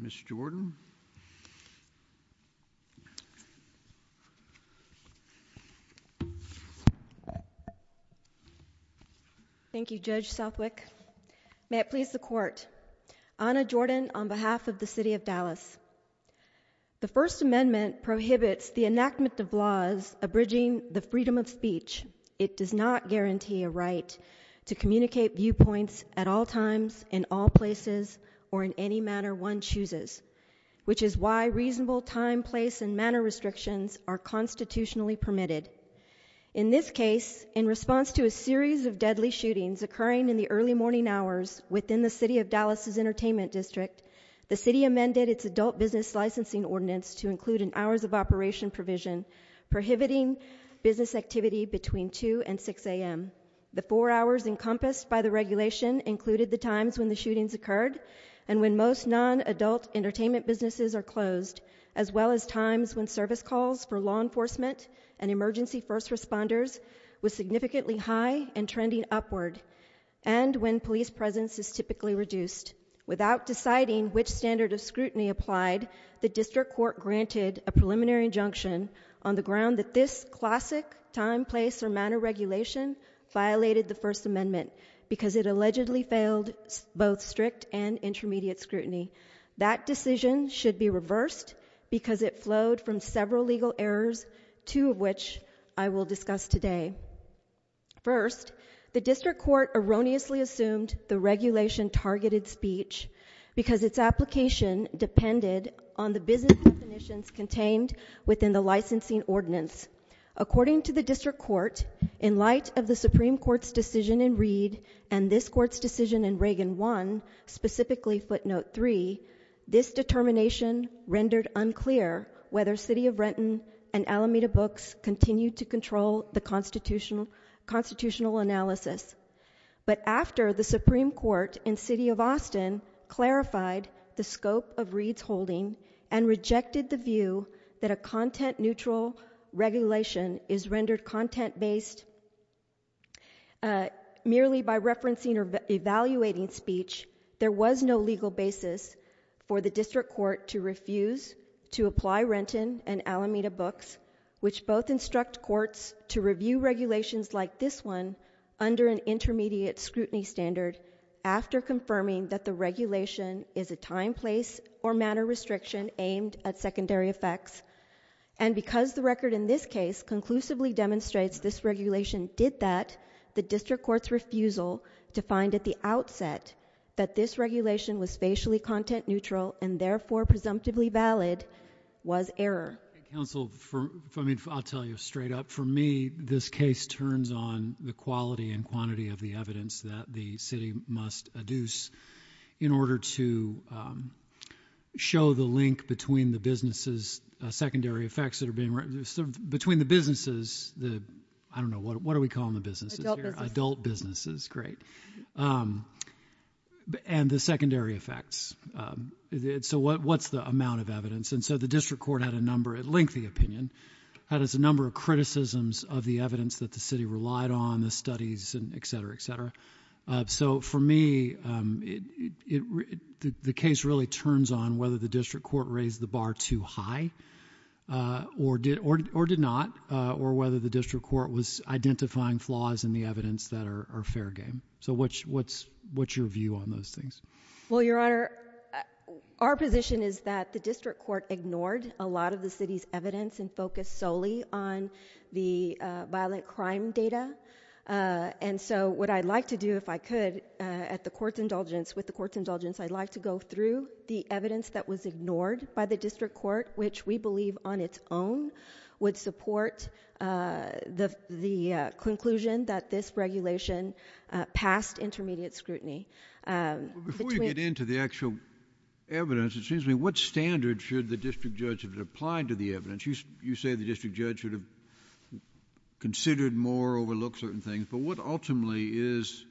Ms. Jordan. Thank you, Judge Southwick. May it please the court. Ana Jordan on behalf of the City of Dallas. The First Amendment prohibits the enactment of laws abridging the freedom of speech. It does not guarantee a right to communicate viewpoints at all times, in all places, or in any manner one chooses, which is why reasonable time, place, and manner restrictions are constitutionally permitted. In this case, in response to a series of deadly shootings occurring in the early morning hours within the City of Dallas's Entertainment District, the City amended its Adult Business Licensing Ordinance to include an hours of operation provision prohibiting business activity between 2 and 6 a.m. The four hours encompassed by the regulation included the times when the shootings occurred, and when most non-adult entertainment businesses are closed, as well as times when service calls for law enforcement and emergency first responders was significantly high and trending upward, and when police presence is typically reduced. Without deciding which standard of scrutiny applied, the District Court granted a preliminary injunction on the ground that this classic time, place, or manner regulation violated the First Amendment because it allegedly failed both strict and intermediate scrutiny. That decision should be reversed because it flowed from several legal errors, two of which I will discuss today. First, the District Court erroneously assumed the regulation targeted speech because its application depended on the business definitions contained within the licensing ordinance. According to the District Court, in light of the Supreme Court's decision in Reed and this Court's decision in Reagan 1, specifically footnote 3, this determination rendered unclear whether City of Renton and Alameda Books continued to control the constitutional analysis, but after the Supreme Court in City of Austin clarified the scope of Reed's decision, rejected the view that a content-neutral regulation is rendered content-based merely by referencing or evaluating speech, there was no legal basis for the District Court to refuse to apply Renton and Alameda Books, which both instruct courts to review regulations like this one under an intermediate scrutiny standard after confirming that the regulation is a time, place, or manner restriction aimed at secondary effects, and because the record in this case conclusively demonstrates this regulation did that, the District Court's refusal to find at the outset that this regulation was facially content-neutral and therefore presumptively valid was error. I'll tell you straight up. For me, this case turns on the quality and quantity of the evidence that the City must adduce in order to show the link between the businesses... secondary effects that are being... between the businesses... I don't know, what do we call them, the businesses here? Adult businesses. Adult businesses. Great. And the secondary effects. So what's the amount of evidence? And so, the District Court had a number... it linked the opinion... had a number of criticisms of the evidence that the City relied on, the studies, and et cetera, et cetera. So, for me, it... the case really turns on whether the District Court raised the bar too high or did... or did not, or whether the District Court was identifying flaws in the evidence that are fair game. So what's your view on those things? Well, Your Honor, our position is that the District Court ignored a lot of the evidence. And so, what I'd like to do, if I could, at the Court's indulgence, with the Court's indulgence, I'd like to go through the evidence that was ignored by the District Court, which we believe, on its own, would support the conclusion that this regulation passed intermediate scrutiny. Before you get into the actual evidence, it seems to me, what standard should the District Judge have applied to the evidence? You say the same things, but what ultimately is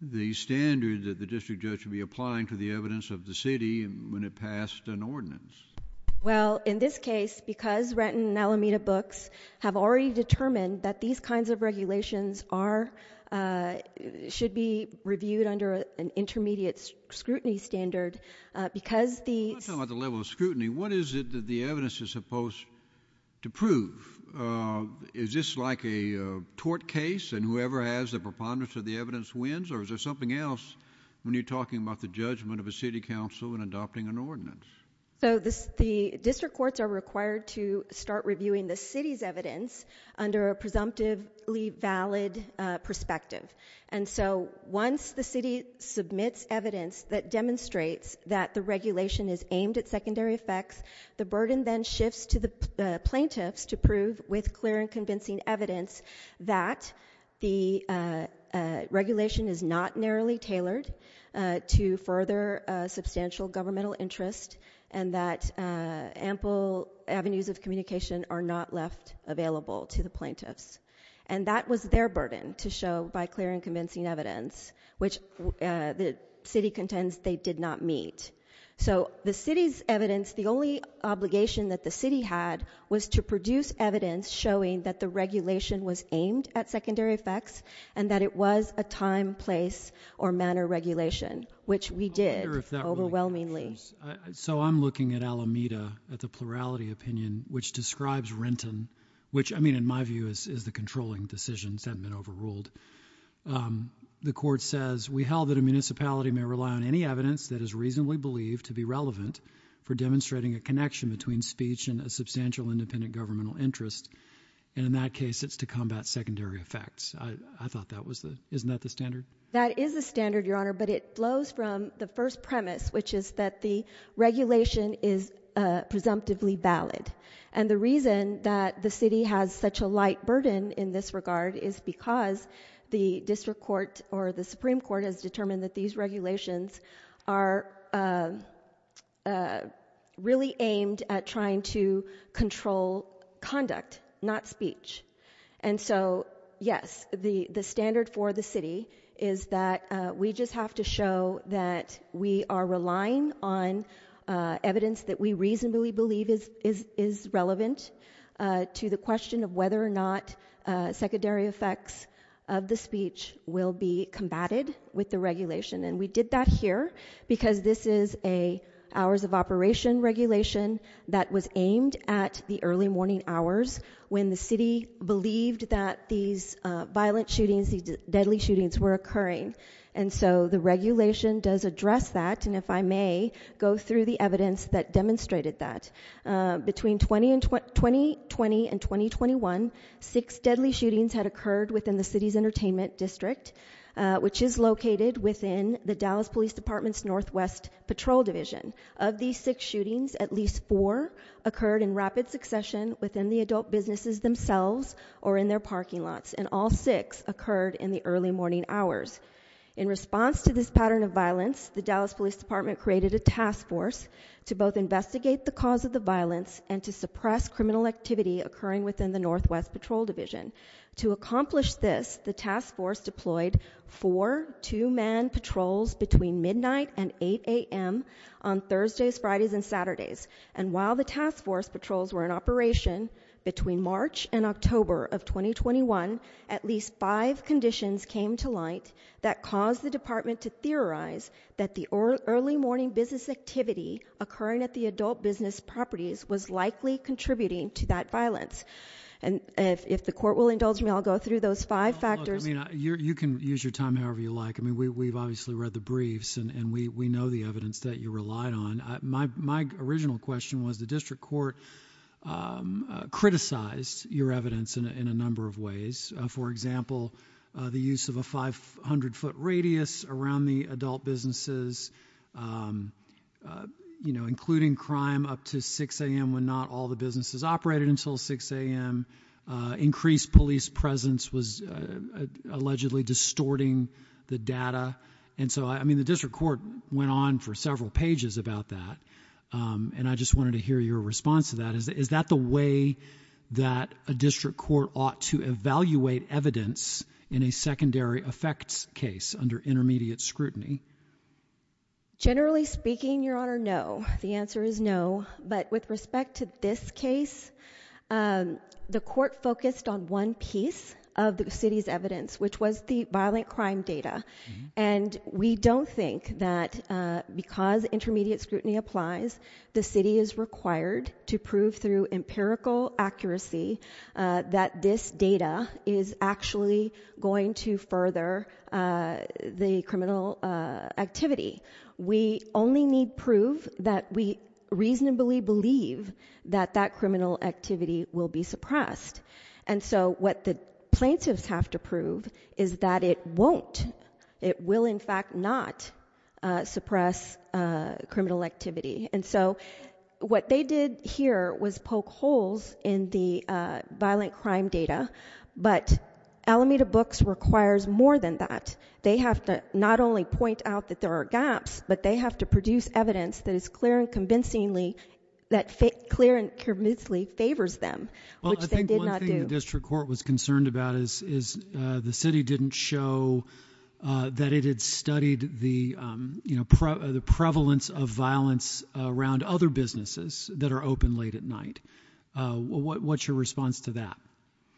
the standard that the District Judge should be applying to the evidence of the City when it passed an ordinance? Well, in this case, because Renton and Alameda books have already determined that these kinds of regulations are... should be reviewed under an intermediate scrutiny standard, because the... I'm not talking about the level of scrutiny. What is it that the evidence is and whoever has the preponderance of the evidence wins? Or is there something else when you're talking about the judgment of a City Council in adopting an ordinance? So, the District Courts are required to start reviewing the City's evidence under a presumptively valid perspective. And so, once the City submits evidence that demonstrates that the regulation is aimed at secondary effects, the burden then shifts to the plaintiffs to prove with clear and convincing evidence that the regulation is not narrowly tailored to further substantial governmental interest and that ample avenues of communication are not left available to the plaintiffs. And that was their burden to show by clear and convincing evidence, which the City contends they did not meet. So, the City's evidence... the only obligation that the City had was to that it was a time, place, or manner regulation, which we did overwhelmingly. So I'm looking at Alameda, at the plurality opinion, which describes Renton, which I mean in my view is the controlling decisions that have been overruled. The Court says... We held that a municipality may rely on any evidence that is reasonably believed to be relevant for demonstrating a connection between speech and a substantial independent governmental interest, and in that case it's to combat secondary effects. I thought that was the... isn't that the standard? That is the standard, Your Honor, but it flows from the first premise, which is that the regulation is presumptively valid. And the reason that the City has such a light burden in this regard is because the District Court or the Supreme Court has determined that these regulations are really aimed at trying to control conduct, not speech. And so, yes, the standard for the City is that we just have to show that we are relying on evidence that we reasonably believe is relevant to the question of whether or not secondary effects of the speech will be combated with the regulation. And we did that here because this is a loss-of-operation regulation that was aimed at the early morning hours when the City believed that these violent shootings, these deadly shootings were occurring. And so the regulation does address that, and if I may go through the evidence that demonstrated that. Between 2020 and 2021, six deadly shootings had occurred within the City's Entertainment District, which is located within the Dallas Police Department's Northwest Patrol Division. Of these six shootings, at least four occurred in rapid succession within the adult businesses themselves or in their parking lots, and all six occurred in the early morning hours. In response to this pattern of violence, the Dallas Police Department created a task force to both investigate the cause of the violence and to suppress criminal activity occurring within the Northwest Patrol Division. To accomplish this, the task force deployed four two-man patrols between midnight and 8 a.m. on Thursdays, Fridays, and Saturdays. And while the task force patrols were in operation between March and October of 2021, at least five conditions came to light that caused the department to theorize that the early morning business activity occurring at the adult business properties was likely contributing to that violence. And if the court will indulge me, I'll go through those five factors. You can use your time however you like. I mean, we've obviously read the briefs, and we know the evidence that you relied on. My original question was the district court criticized your evidence in a number of ways. For example, the use of a 500-foot radius around the adult businesses, you know, including crime up to 6 a.m. when not all the businesses operated until 6 a.m. Increased police presence was allegedly distorting the data. And so, I mean, the district court went on for several pages about that, and I just wanted to hear your response to that. Is that the way that a district court ought to evaluate evidence in a secondary effects case under intermediate scrutiny? Generally speaking, Your Honor, no. The answer is no. But with respect to this case, the court focused on one piece of the city's evidence, which was the violent crime data. And we don't think that because intermediate scrutiny applies, the city is required to prove through empirical accuracy that this activity. We only need proof that we reasonably believe that that criminal activity will be suppressed. And so, what the plaintiffs have to prove is that it won't. It will, in fact, not suppress criminal activity. And so, what they did here was poke holes in the violent crime data, but Alameda Books requires more than that. They have to not only point out that there are gaps, but they have to produce evidence that is clear and convincingly, that clear and convincingly favors them, which they did not do. Well, I think one thing the district court was concerned about is the city didn't show that it had studied the, you know, the prevalence of violence around other businesses that are open late at night. What's your response to that?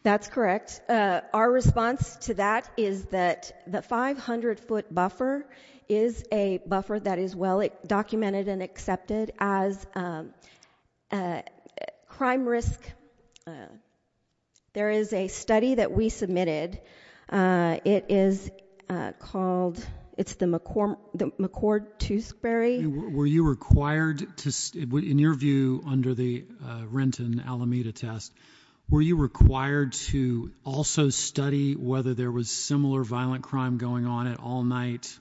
That's correct. Our response to that is that the 500-foot buffer is a buffer that is well documented and accepted as a crime risk. There is a study that we submitted. It is called, it's the McCord-Tewsbury. Were you required to, in your view, under the Renton-Alameda test, were you required to also study whether there was similar violent crime going on at all night?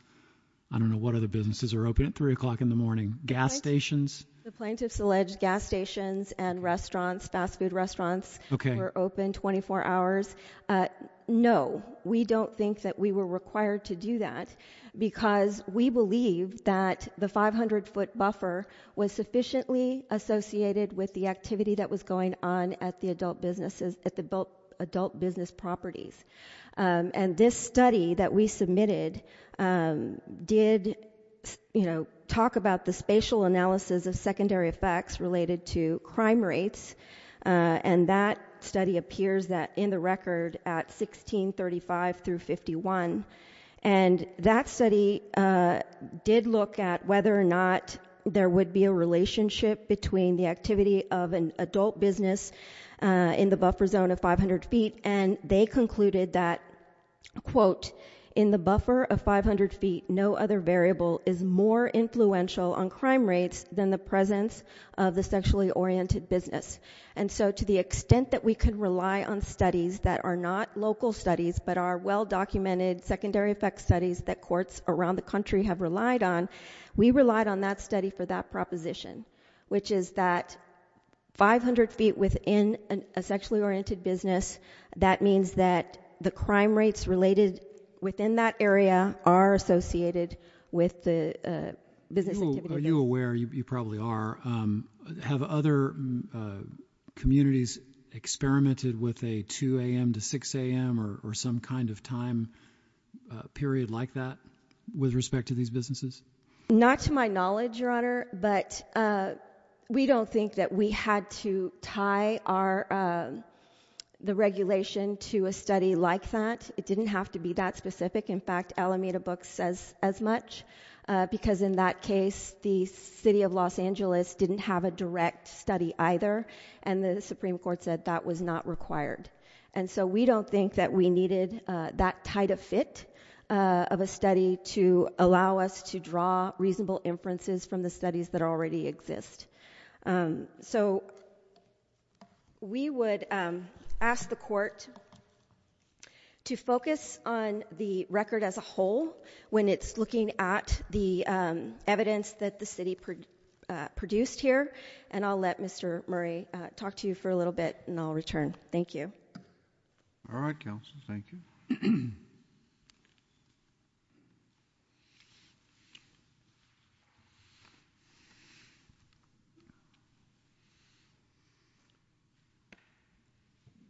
I don't know what other businesses are open at three o'clock in the morning. Gas stations? The plaintiffs alleged gas stations and restaurants, fast-food restaurants, were open 24 hours. No, we don't think that we were required to do that because we believe that the 500-foot buffer was sufficiently associated with the activity that was going on at the adult business properties. And this study that we submitted did, you know, talk about the spatial analysis of secondary effects related to crime rates. And that study appears that in the record at 1635 through 51. And that study did look at whether or not there would be a relationship between the activity of an adult business and the activity of a non-adult business. And they found that activity of a non-adult business. And so they did a study in the buffer zone of 500 feet and they concluded that, quote, in the buffer of 500 feet, no other variable is more influential on crime rates than the presence of the sexually-oriented business. That means that the crime rates related within that area are associated with the business activity. Are you aware, you probably are, have other communities experimented with a 2 a.m. to 6 a.m. or some kind of time period like that with respect to these businesses? Not to my knowledge, Your Honor, but we don't think that we had to tie the regulation to a study like that. It didn't have to be that specific. In fact, Alameda Books says as much because in that case the city of Los Angeles didn't have a direct study either and the Supreme Court said that was not required. And so we don't think that we needed that tight a fit of a study to allow us to draw reasonable inferences from the evidence. So we would ask the court to focus on the record as a whole when it's looking at the evidence that the city produced here and I'll let Mr. Murray talk to you for a little bit and I'll return. Thank you. All right, counsel, thank you.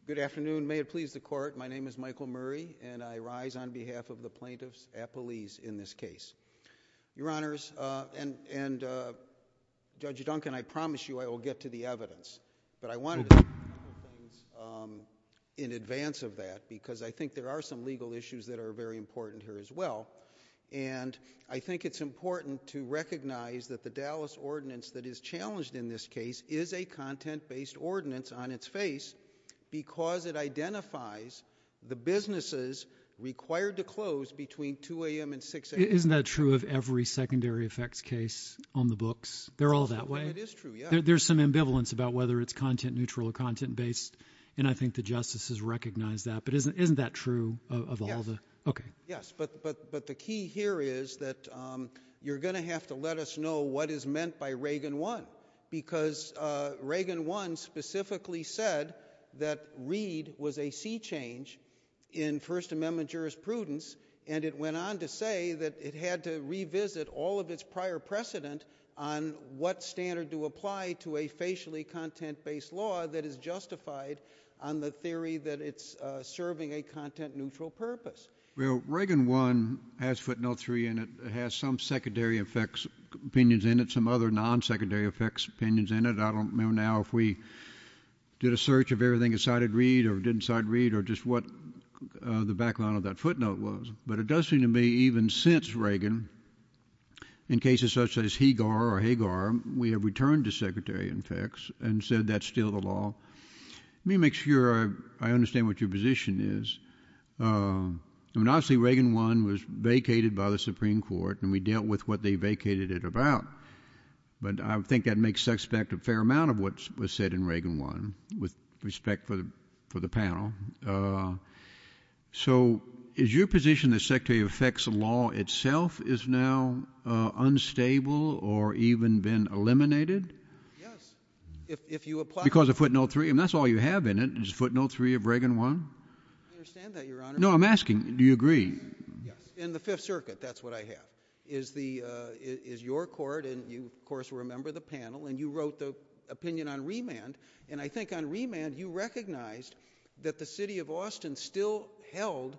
Good afternoon. May it please the court, my name is Michael Murray and I rise on behalf of the plaintiffs at police in this case. Your Honors, and and Judge Duncan, I promise you I will get to the evidence, but I wanted in advance of that because I think there are some legal issues that are very important here as well and I think it's important to recognize that the Dallas ordinance that is challenged in this case is a content-based ordinance on its face because it identifies the businesses required to close between 2 a.m. and 6 a.m. Isn't that true of every secondary effects case on the books? They're all that way? There's some ambivalence about whether it's content-neutral or content-based and I think the justices recognize that, but isn't isn't that true of all the? Okay. Yes, but but but the key here is that you're gonna have to let us know what is meant by Reagan 1 because Reagan 1 specifically said that Reed was a sea change in First Amendment jurisprudence and it went on to say that it had to revisit all of its prior precedent on what standard to apply to a facially content-based law that is justified on the theory that it's serving a content-neutral purpose. Well, Reagan 1 has footnote 3 and it has some secondary effects opinions in it, some other non-secondary effects opinions in it. I don't know now if we did a search of everything that cited Reed or didn't cite Reed or just what the background of that footnote was, but it does seem to me even since Reagan, in cases such as Hegar or Hagar, we have returned to secretary effects and said that's still the law. Let me make sure I understand what your position is. I mean, obviously Reagan 1 was vacated by the Supreme Court and we dealt with what they vacated it about, but I think that makes suspect a fair amount of what was said in Reagan 1 with respect for the panel. So is your position that secretary effects law itself is now unstable or even been eliminated because of footnote 3? And that's all you have in it is footnote 3 of Reagan 1? No, I'm asking do you agree? In the Fifth Circuit, that's what I have, is your court and you of course remember the panel and you wrote the opinion on remand and I think on remand you recognized that the city of Austin still held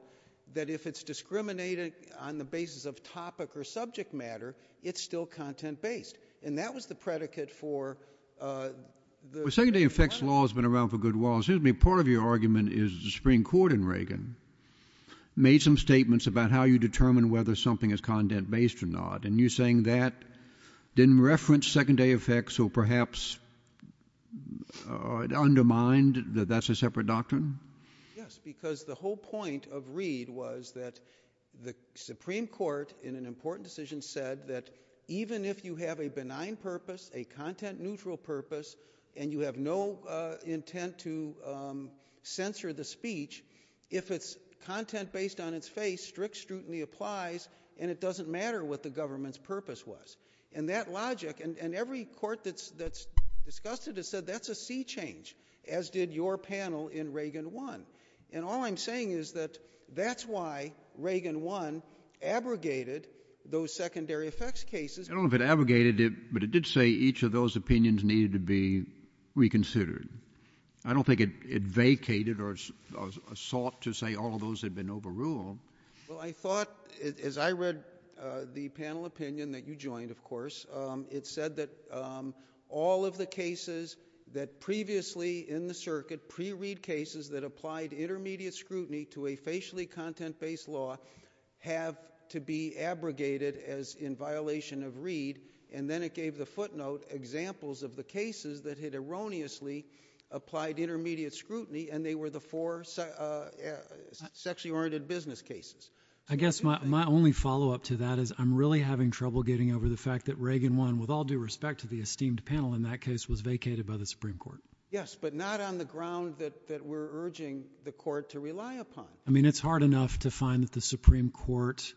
that if it's discriminated on the basis of topic or subject matter, it's still content-based and that was the predicate for the... Well, secondary effects law has been around for a good while. Part of your argument is the Supreme Court in Reagan made some statements about how you determine whether something is content-based or not and you saying that didn't reference secondary effects or perhaps undermined that that's a separate doctrine? Yes, because the whole point of Reid was that the Supreme Court in an important decision said that even if you have a benign purpose, a content-neutral purpose, and you have no intent to censor the government's face, strict scrutiny applies and it doesn't matter what the government's purpose was and that logic and every court that's discussed it has said that's a sea change as did your panel in Reagan 1 and all I'm saying is that that's why Reagan 1 abrogated those secondary effects cases. I don't know if it abrogated it, but it did say each of those opinions needed to be reconsidered. I don't think it vacated or sought to say all those had been overruled. Well, I thought as I read the panel opinion that you joined, of course, it said that all of the cases that previously in the circuit, pre-Reid cases that applied intermediate scrutiny to a facially content-based law have to be abrogated as in violation of Reid and then it gave the footnote examples of the cases that had erroneously applied intermediate scrutiny and they were the four sexually oriented business cases. I guess my only follow-up to that is I'm really having trouble getting over the fact that Reagan 1, with all due respect to the esteemed panel in that case, was vacated by the Supreme Court. Yes, but not on the ground that we're urging the court to rely upon. I mean it's hard enough to find that the Supreme Court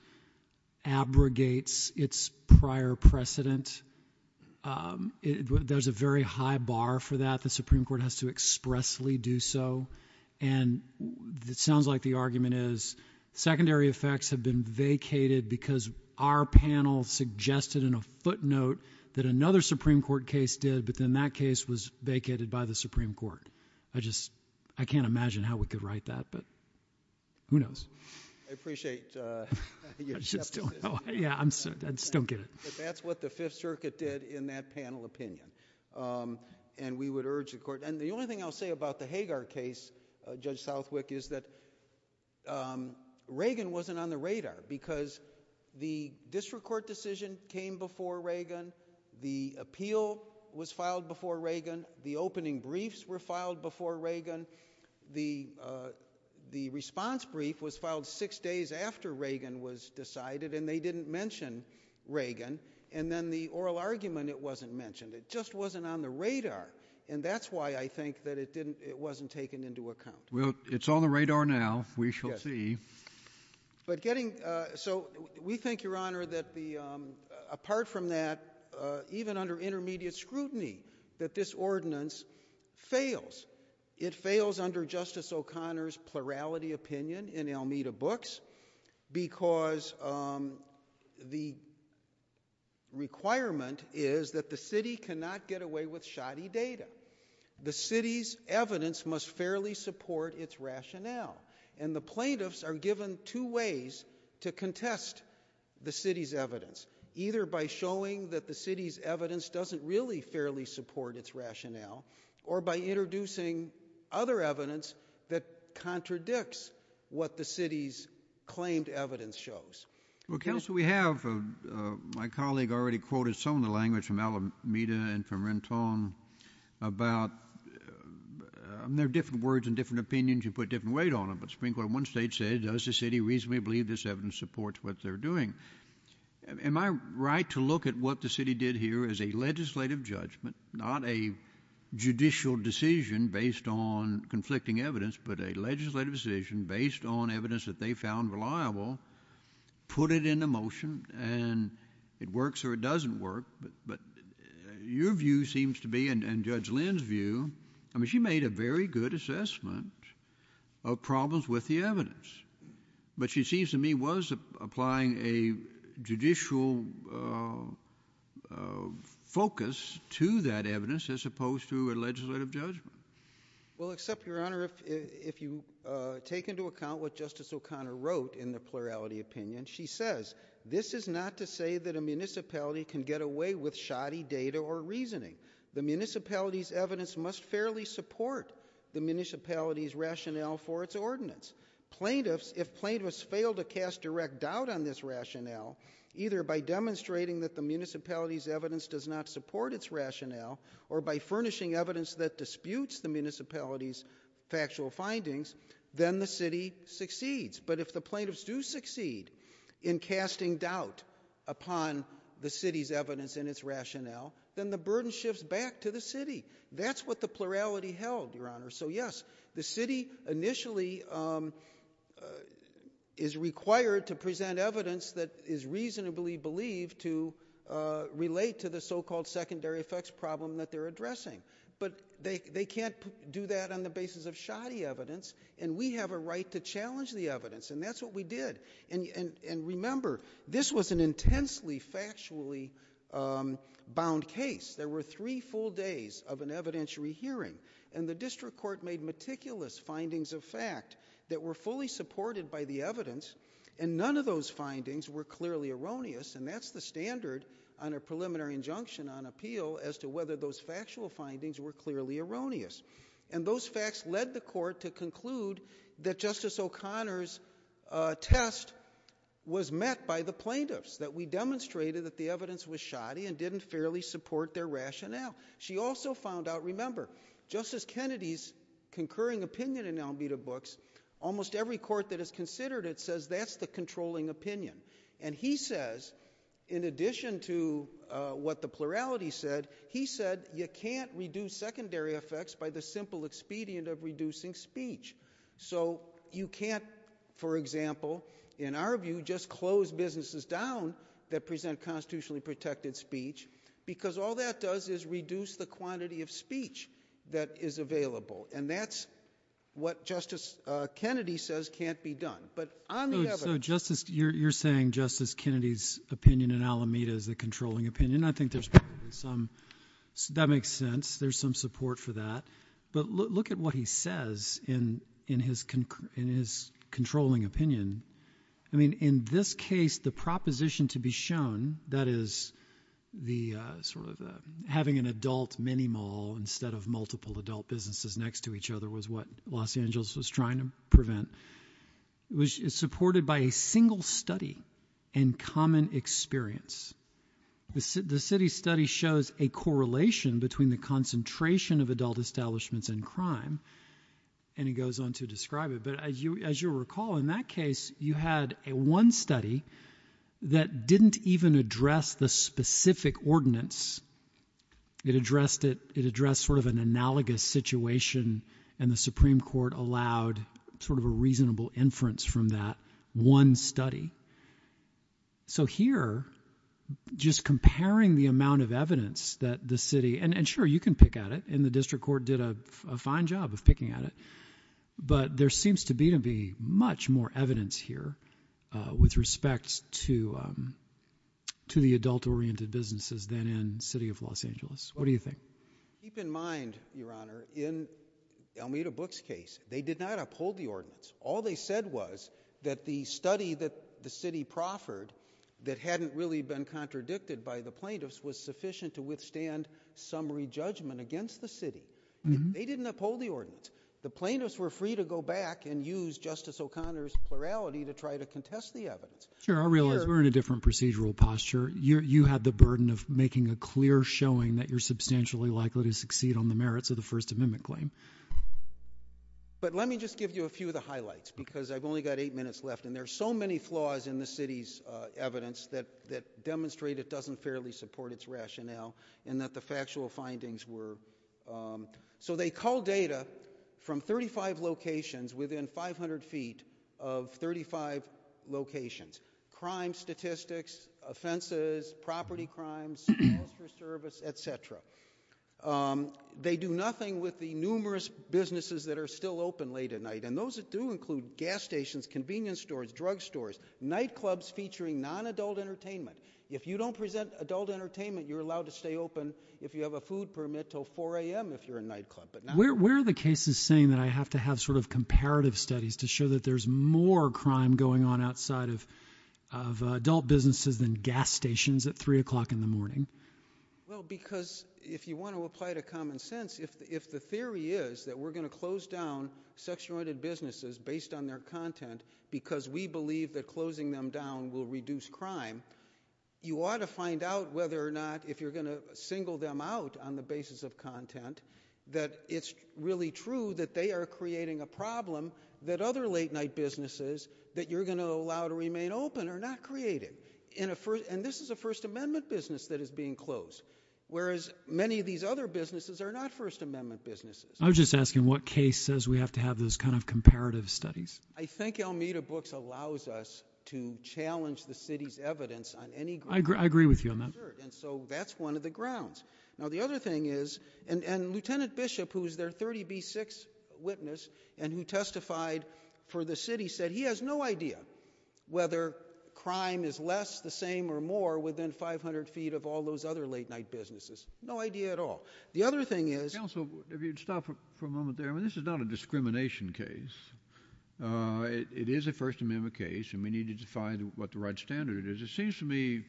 abrogates its prior precedent. There's a very high bar for that. The Supreme Court has to expressly do so and it sounds like the argument is secondary effects have been vacated because our panel suggested in a footnote that another Supreme Court case did but then that case was vacated by the Supreme Court. I just, I can't imagine how we could write that but who knows. I appreciate your skepticism. I just don't get it. That's what the Fifth Amendment is. And we would urge the court and the only thing I'll say about the Hagar case, Judge Southwick, is that Reagan wasn't on the radar because the district court decision came before Reagan, the appeal was filed before Reagan, the opening briefs were filed before Reagan, the response brief was filed six days after Reagan was decided and they didn't mention Reagan and then the oral argument, it wasn't mentioned. It just wasn't on the radar and that's why I think that it didn't, it wasn't taken into account. Well, it's on the radar now. We shall see. But getting, so we think, Your Honor, that the, apart from that, even under intermediate scrutiny that this ordinance fails. It fails under Justice O'Connor's plurality opinion in Almeida books because the requirement is that the city cannot get away with shoddy data. The city's evidence must fairly support its rationale and the plaintiffs are given two ways to contest the city's evidence. Either by showing that the city's evidence doesn't really support its rationale or by introducing other evidence that contradicts what the city's claimed evidence shows. Well, Counsel, we have, my colleague already quoted some of the language from Almeida and from Renton about, and they're different words and different opinions, you put different weight on them, but Supreme Court in one state said, does the city reasonably believe this evidence supports what they're doing? Am I right to look at what the city did here as a legislative judgment, not a judicial decision based on conflicting evidence, but a legislative decision based on evidence that they found reliable, put it into motion and it works or it doesn't work, but your view seems to be, and Judge Lynn's view, I mean, she made a very good assessment of problems with the evidence as opposed to a legislative judgment. Well, except, Your Honor, if you take into account what Justice O'Connor wrote in the plurality opinion, she says, this is not to say that a municipality can get away with shoddy data or reasoning. The municipality's evidence must fairly support the municipality's rationale for its ordinance. Plaintiffs, if plaintiffs fail to cast direct doubt on this rationale, either by demonstrating that the municipality's evidence does not support its rationale or by furnishing evidence that disputes the municipality's factual findings, then the city succeeds. But if the plaintiffs do succeed in casting doubt upon the city's evidence and its rationale, then the burden shifts back to the city. That's what the plurality held, Your Honor. So yes, the city initially, um, uh, is required to present evidence that is reasonably believed to, uh, relate to the so-called secondary effects problem that they're addressing. But they, they can't do that on the basis of shoddy evidence, and we have a right to challenge the evidence, and that's what we did. And, and, and remember, this was an intensely factually, um, bound case. There were three full days of an evidentiary hearing, and the district court made meticulous findings of fact that were supported by the evidence, and none of those findings were clearly erroneous, and that's the standard on a preliminary injunction on appeal as to whether those factual findings were clearly erroneous. And those facts led the court to conclude that Justice O'Connor's, uh, test was met by the plaintiffs, that we demonstrated that the evidence was shoddy and didn't fairly support their rationale. She also found out, remember, Justice Kennedy's concurring opinion in Almeida Books, almost every court that has considered it says that's the controlling opinion. And he says, in addition to, uh, what the plurality said, he said you can't reduce secondary effects by the simple expedient of reducing speech. So you can't, for example, in our view, just close businesses down that present constitutionally protected speech, because all that does is reduce the quantity of speech that is available. And that's what Justice, uh, Kennedy says can't be done. But on the evidence... So Justice, you're, you're saying Justice Kennedy's opinion in Almeida is the controlling opinion. I think there's probably some, that makes sense. There's some support for that. But look, look at what he says in, in his, in his controlling opinion. I mean, in this case, the proposition to be shown that is the, uh, sort of, uh, having an adult mini mall instead of multiple adult businesses next to each other was what Los Angeles was trying to prevent, which is supported by a single study and common experience. The city, the city study shows a correlation between the concentration of adult establishments and crime. And he goes on to that didn't even address the specific ordinance. It addressed it, it addressed sort of an analogous situation and the Supreme Court allowed sort of a reasonable inference from that one study. So here, just comparing the amount of evidence that the city and, and sure you can pick at it and the district court did a fine job of picking at it, but there seems to be, to be much more evidence here, uh, with respect to, um, to the adult oriented businesses than in city of Los Angeles. What do you think? Keep in mind, Your Honor, in Elmira Book's case, they did not uphold the ordinance. All they said was that the study that the city proffered that hadn't really been contradicted by the plaintiffs was sufficient to withstand summary judgment against the city. They didn't uphold the ordinance. The plaintiffs were free to go back and use Justice O'Connor's to try to contest the evidence. Sure. I realize we're in a different procedural posture. You're, you had the burden of making a clear showing that you're substantially likely to succeed on the merits of the first amendment claim. But let me just give you a few of the highlights because I've only got eight minutes left and there are so many flaws in the city's, uh, evidence that, that demonstrate it doesn't fairly support its rationale and that the factual findings were, um, so they call data from 35 locations within 500 feet of 35 locations, crime statistics, offenses, property crimes, foster service, et cetera. Um, they do nothing with the numerous businesses that are still open late at night and those that do include gas stations, convenience stores, drug stores, nightclubs featuring non-adult entertainment. If you don't present adult entertainment, you're allowed to stay open. If you have a food permit till 4am, if you're a nightclub, but where, where are the cases saying that I have to have sort of comparative studies to show that there's more crime going on outside of, of adult businesses than gas stations at three o'clock in the morning? Well, because if you want to apply to common sense, if the, if the theory is that we're going to close down section oriented businesses based on their content because we believe that closing them down will reduce crime, you ought to find out whether or not if you're going to single them out on the basis of content that it's really true that they are creating a problem that other late night businesses that you're going to allow to remain open are not creating. In a first, and this is a first amendment business that is being closed, whereas many of these other businesses are not first amendment businesses. I was just asking what case says we have to have those kind of comparative studies. I think Almeida Books allows us to challenge the city's evidence on any... I agree, I agree with you on that. And so that's one of the grounds. Now, the other thing is, and, and Lieutenant Bishop, who's their 30B6 witness and who testified for the city said he has no idea whether crime is less the same or more within 500 feet of all those other late night businesses. No idea at all. The other thing is... Counsel, if you'd stop for a moment there, I mean, this is not a discrimination case. Uh, it is a first amendment case and we need to define what the right standard is. It seems to me,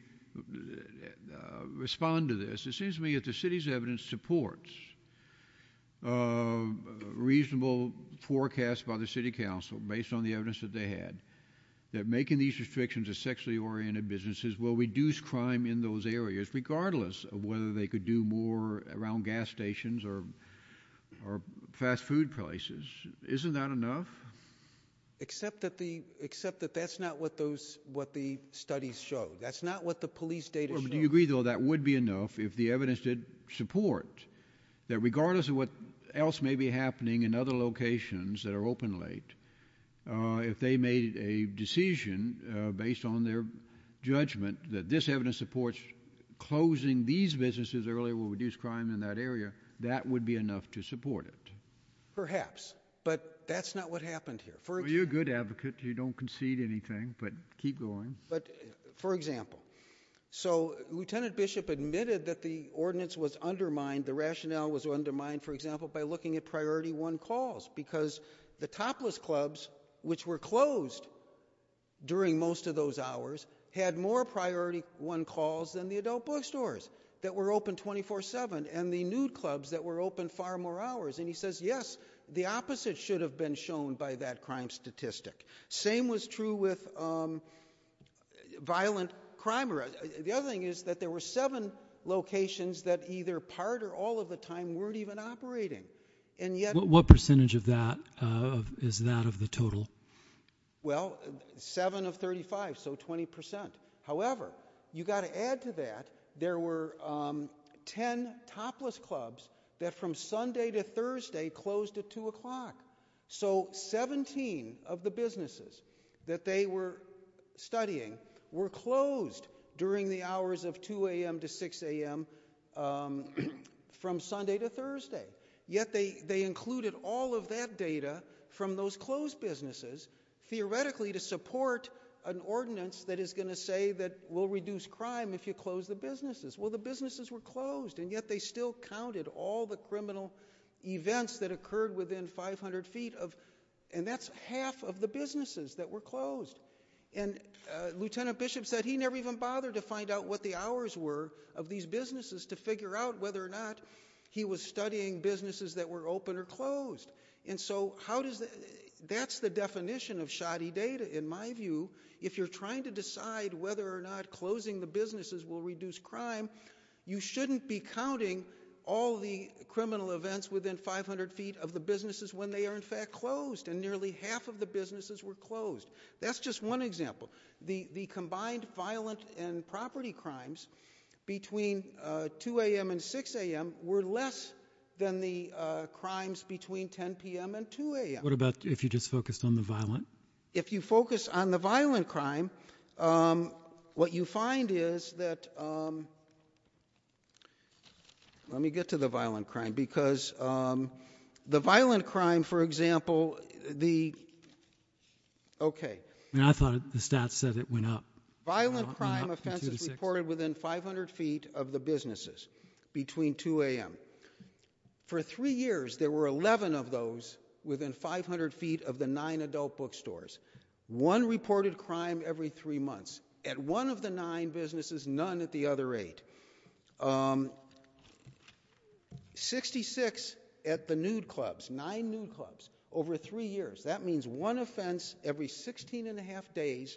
respond to this, it seems to me that the city's evidence supports a reasonable forecast by the city council based on the evidence that they had that making these restrictions of sexually oriented businesses will reduce crime in those areas regardless of whether they could do more around gas stations or, or fast food places. Isn't that enough? Except that the, except that that's not what those, what the studies show. That's not what the police data show. Do you agree though that would be enough if the evidence did support that regardless of what else may be happening in other locations that are open late, uh, if they made a decision, uh, based on their judgment that this evidence supports closing these businesses earlier will reduce crime in that area, that would be enough to support it? Perhaps, but that's not what happened here. You're a good advocate, you don't concede anything, but keep going. But for example, so Lieutenant Bishop admitted that the ordinance was undermined, the rationale was undermined, for example, by looking at priority one calls because the topless clubs, which were closed during most of those hours, had more priority one calls than the adult bookstores that were open 24-7 and the nude clubs that were open far more hours. And he says, yes, the opposite should have been shown by that crime statistic. Same was true with, um, violent crime. The other thing is that there were seven locations that either part or all of the time weren't even operating. And yet, what percentage of that, uh, is that of the total? Well, seven of 35, so 20%. However, you got to add to that, there were, um, 10 topless clubs that from Sunday to Thursday closed at two o'clock. So 17 of the businesses that they were studying were closed during the hours of 2 a.m. to 6 a.m., um, from Sunday to Thursday. Yet they, they included all of that data from those closed businesses, theoretically, to support an ordinance that is going to say that we'll reduce crime if you close the businesses. Well, the businesses were closed and yet they still counted all the criminal events that occurred within 500 feet of, and that's half of the businesses that were closed. And, uh, Lieutenant Bishop said he never even bothered to find out what the hours were of these businesses to figure out whether or not he was studying businesses that were open or closed. And so how does that, that's the definition of shoddy data in my view. If you're trying to decide whether or not closing the businesses will reduce crime, you shouldn't be counting all the criminal events within 500 feet of the businesses when they are in fact closed. And nearly half of the businesses were closed. That's just one example. The, the combined violent and property crimes between, uh, 2 a.m. and 6 a.m. were less than the, uh, crimes between 10 p.m. and 2 a.m. What about if you just focused on the violent? If you focus on the violent crime, um, what you find is that, um, let me get to the violent crime because, um, the violent crime, for example, the, okay. And I thought the stats said it went up. Violent crime offenses reported within 500 feet of the businesses between 2 a.m. For three years there were 11 of those within 500 feet of the nine adult bookstores. One reported crime every three months at one of the nine businesses, none at the other eight. Um, 66 at the nude clubs, nine nude clubs over three years. That means one offense every 16 and a half days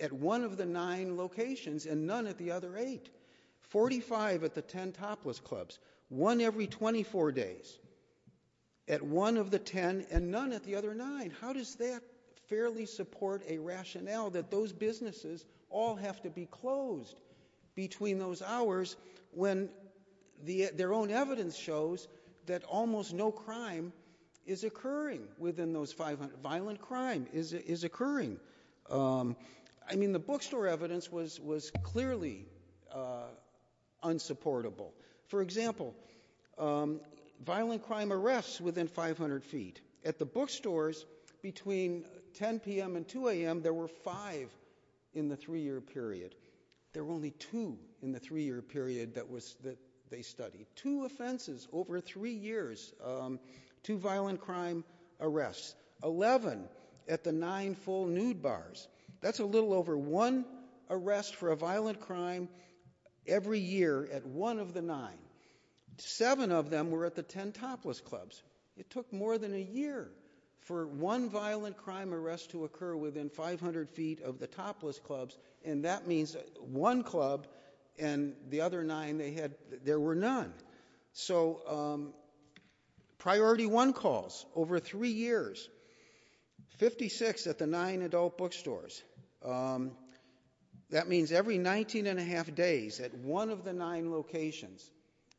at one of the nine locations and none at the other eight. 45 at the 10 topless clubs. One every 24 days at one of the 10 and none at the other nine. How does that fairly support a rationale that those businesses all have to be closed between those hours when the, their own evidence shows that almost no crime is occurring within those 500, violent crime is, is occurring? Um, I mean the bookstore evidence was, was clearly, uh, unsupportable. For example, um, violent crime arrests within 500 feet. At the bookstores between 10 p.m. and 2 a.m. there were five in the three-year period. There were only two in the three-year period that was, that they studied. Two offenses over three years, um, two violent crime arrests. 11 at the nine full nude bars. That's a little over one arrest for a violent crime every year at one of the nine. Seven of them were at the 10 topless clubs. It took more than a year for one violent crime arrest to occur within 500 feet of the topless clubs and that means one club and the other nine they had, there were none. So, um, priority one calls over three years. 56 at the nine adult bookstores. Um, that means every 19 and a half days at one of the nine locations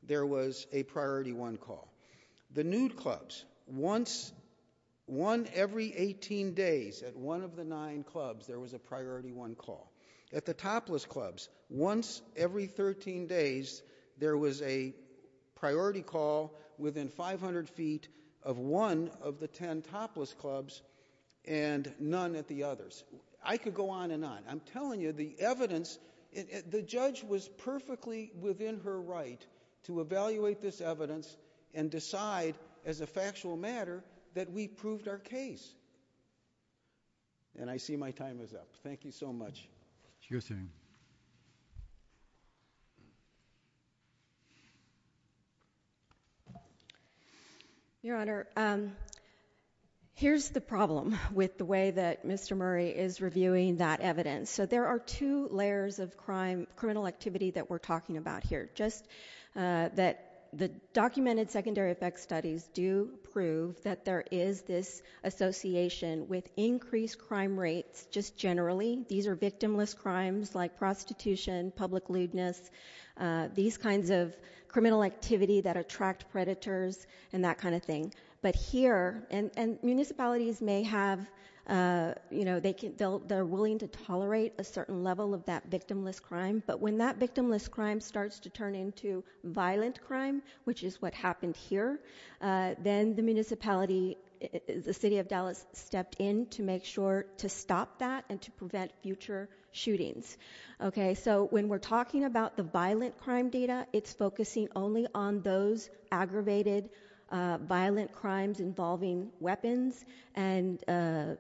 there was a priority one call. The nude clubs, once, one every 18 days at one of the nine call. At the topless clubs, once every 13 days there was a priority call within 500 feet of one of the 10 topless clubs and none at the others. I could go on and on. I'm telling you the evidence, the judge was perfectly within her right to evaluate this evidence and decide as a factual matter that we proved our case. And I see my time is up. Thank you so much. Your Honor, um, here's the problem with the way that Mr. Murray is reviewing that evidence. So there are two layers of crime, criminal activity that we're talking about here. Just, uh, that the documented secondary effects studies do prove that there is this association with increased crime rates just generally. These are victimless crimes like prostitution, public lewdness, uh, these kinds of criminal activity that attract predators and that kind of thing. But here, and, and municipalities may have, uh, you know, they can, they're willing to tolerate a certain level of that victimless crime. But when that victimless crime starts to turn into violent crime, which is what happened here, uh, then the municipality, the city of Dallas stepped in to make sure to stop that and to prevent future shootings. Okay. So when we're talking about the violent crime data, it's focusing only on those aggravated, uh, violent crimes involving weapons and, uh,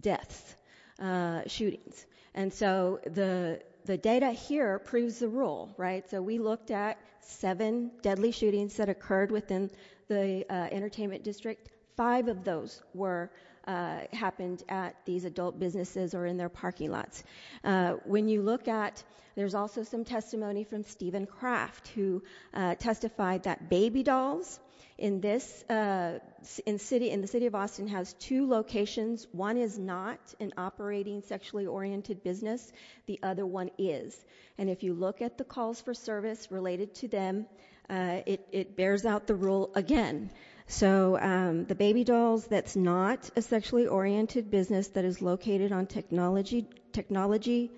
deaths, uh, shootings. And so the, the data here proves the rule, right? So we looked at seven deadly shootings that occurred within the, uh, entertainment district. Five of those were, uh, happened at these adult businesses or in their parking lots. Uh, when you look at, there's also some testimony from Steven Kraft who, uh, testified that baby dolls in this, uh, in city, in the city of Austin has two locations. One is not an operating sexually oriented business. The other one is. And if you look at the calls for service related to them, uh, it, it bears out the rule again. So, um, the baby dolls, that's not a sexually oriented business that is located on technology, technology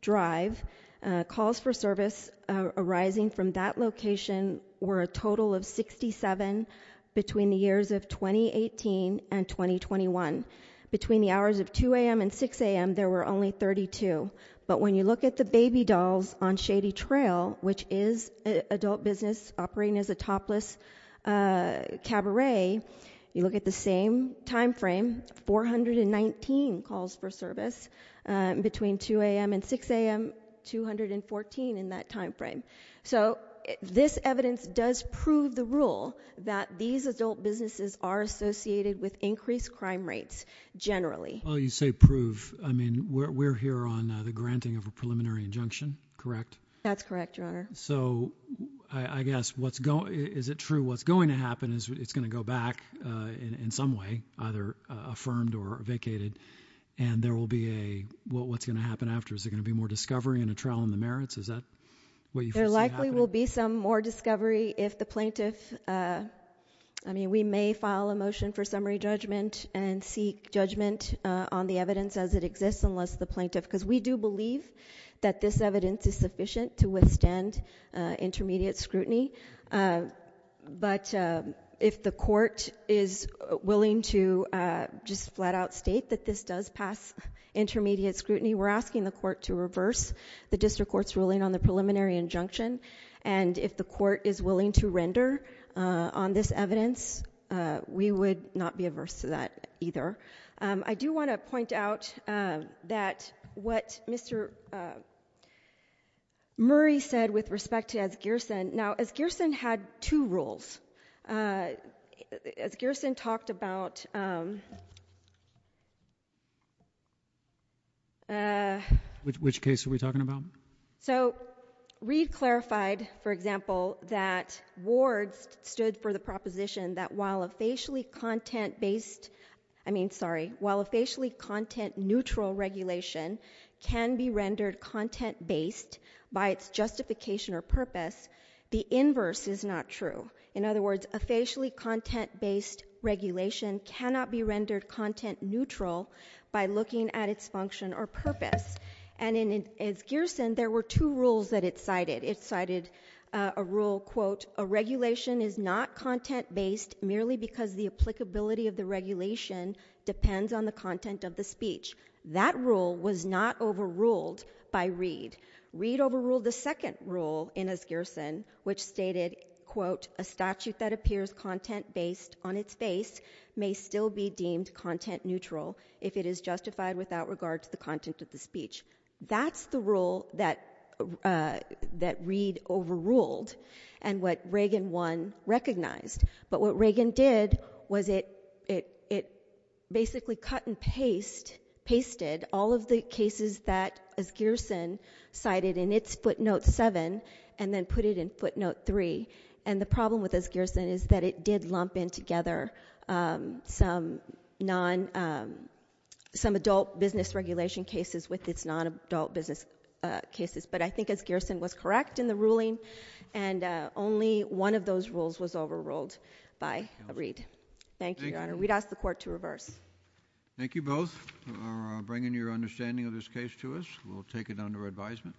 drive, uh, calls for service, uh, arising from that location were a total of 67 between the years of 2018 and 2021. Between the two years, there were only 32. But when you look at the baby dolls on shady trail, which is adult business operating as a topless, uh, cabaret, you look at the same timeframe, 419 calls for service, uh, between 2 AM and 6 AM, 214 in that timeframe. So this evidence does prove the rule that these adult businesses are associated with increased crime rates generally. Well, you say prove, I mean, we're, we're here on the granting of a preliminary injunction, correct? That's correct, your honor. So I, I guess what's going, is it true? What's going to happen is it's going to go back, uh, in, in some way, either, uh, affirmed or vacated. And there will be a, what, what's going to happen after, is there going to be more discovery and a trial in the merits? Is that what you feel? There likely will be some more discovery if the plaintiff, uh, I mean, we may file a motion for on the evidence as it exists, unless the plaintiff, because we do believe that this evidence is sufficient to withstand, uh, intermediate scrutiny. Uh, but, uh, if the court is willing to, uh, just flat out state that this does pass intermediate scrutiny, we're asking the court to reverse the district court's ruling on the preliminary injunction. And if the court is willing to render, uh, on this evidence, uh, we would not be averse to that either. Um, I do want to point out, uh, that what Mr., uh, Murray said with respect to as Gearson. Now, as Gearson had two rules, uh, as Gearson talked about, um, uh. Which, which case are we talking about? So Reed clarified, for example, that Ward stood for the proposition that while a facially content based, I mean, sorry, while a facially content neutral regulation can be rendered content based by its justification or purpose, the inverse is not true. In other words, a facially content based regulation cannot be rendered content neutral by looking at its function or purpose. And in, as Gearson, there were two rules that it cited. It cited, uh, a rule, quote, a regulation is not content based merely because the applicability of the regulation depends on the content of the speech. That rule was not overruled by Reed. Reed overruled the second rule in as Gearson, which stated, quote, a statute that appears content based on its face may still be deemed content neutral if it is justified without regard to the content of the recognized. But what Reagan did was it, it, it basically cut and paste, pasted all of the cases that as Gearson cited in its footnote seven, and then put it in footnote three. And the problem with as Gearson is that it did lump in together, um, some non, um, some adult business regulation cases with its non-adult business, uh, cases. But I think as Gearson was correct in the ruling and, uh, only one of those rules was overruled by Reed. Thank you, Your Honor. We'd ask the court to reverse. Thank you both for bringing your understanding of this case to us. We'll take it under advisement.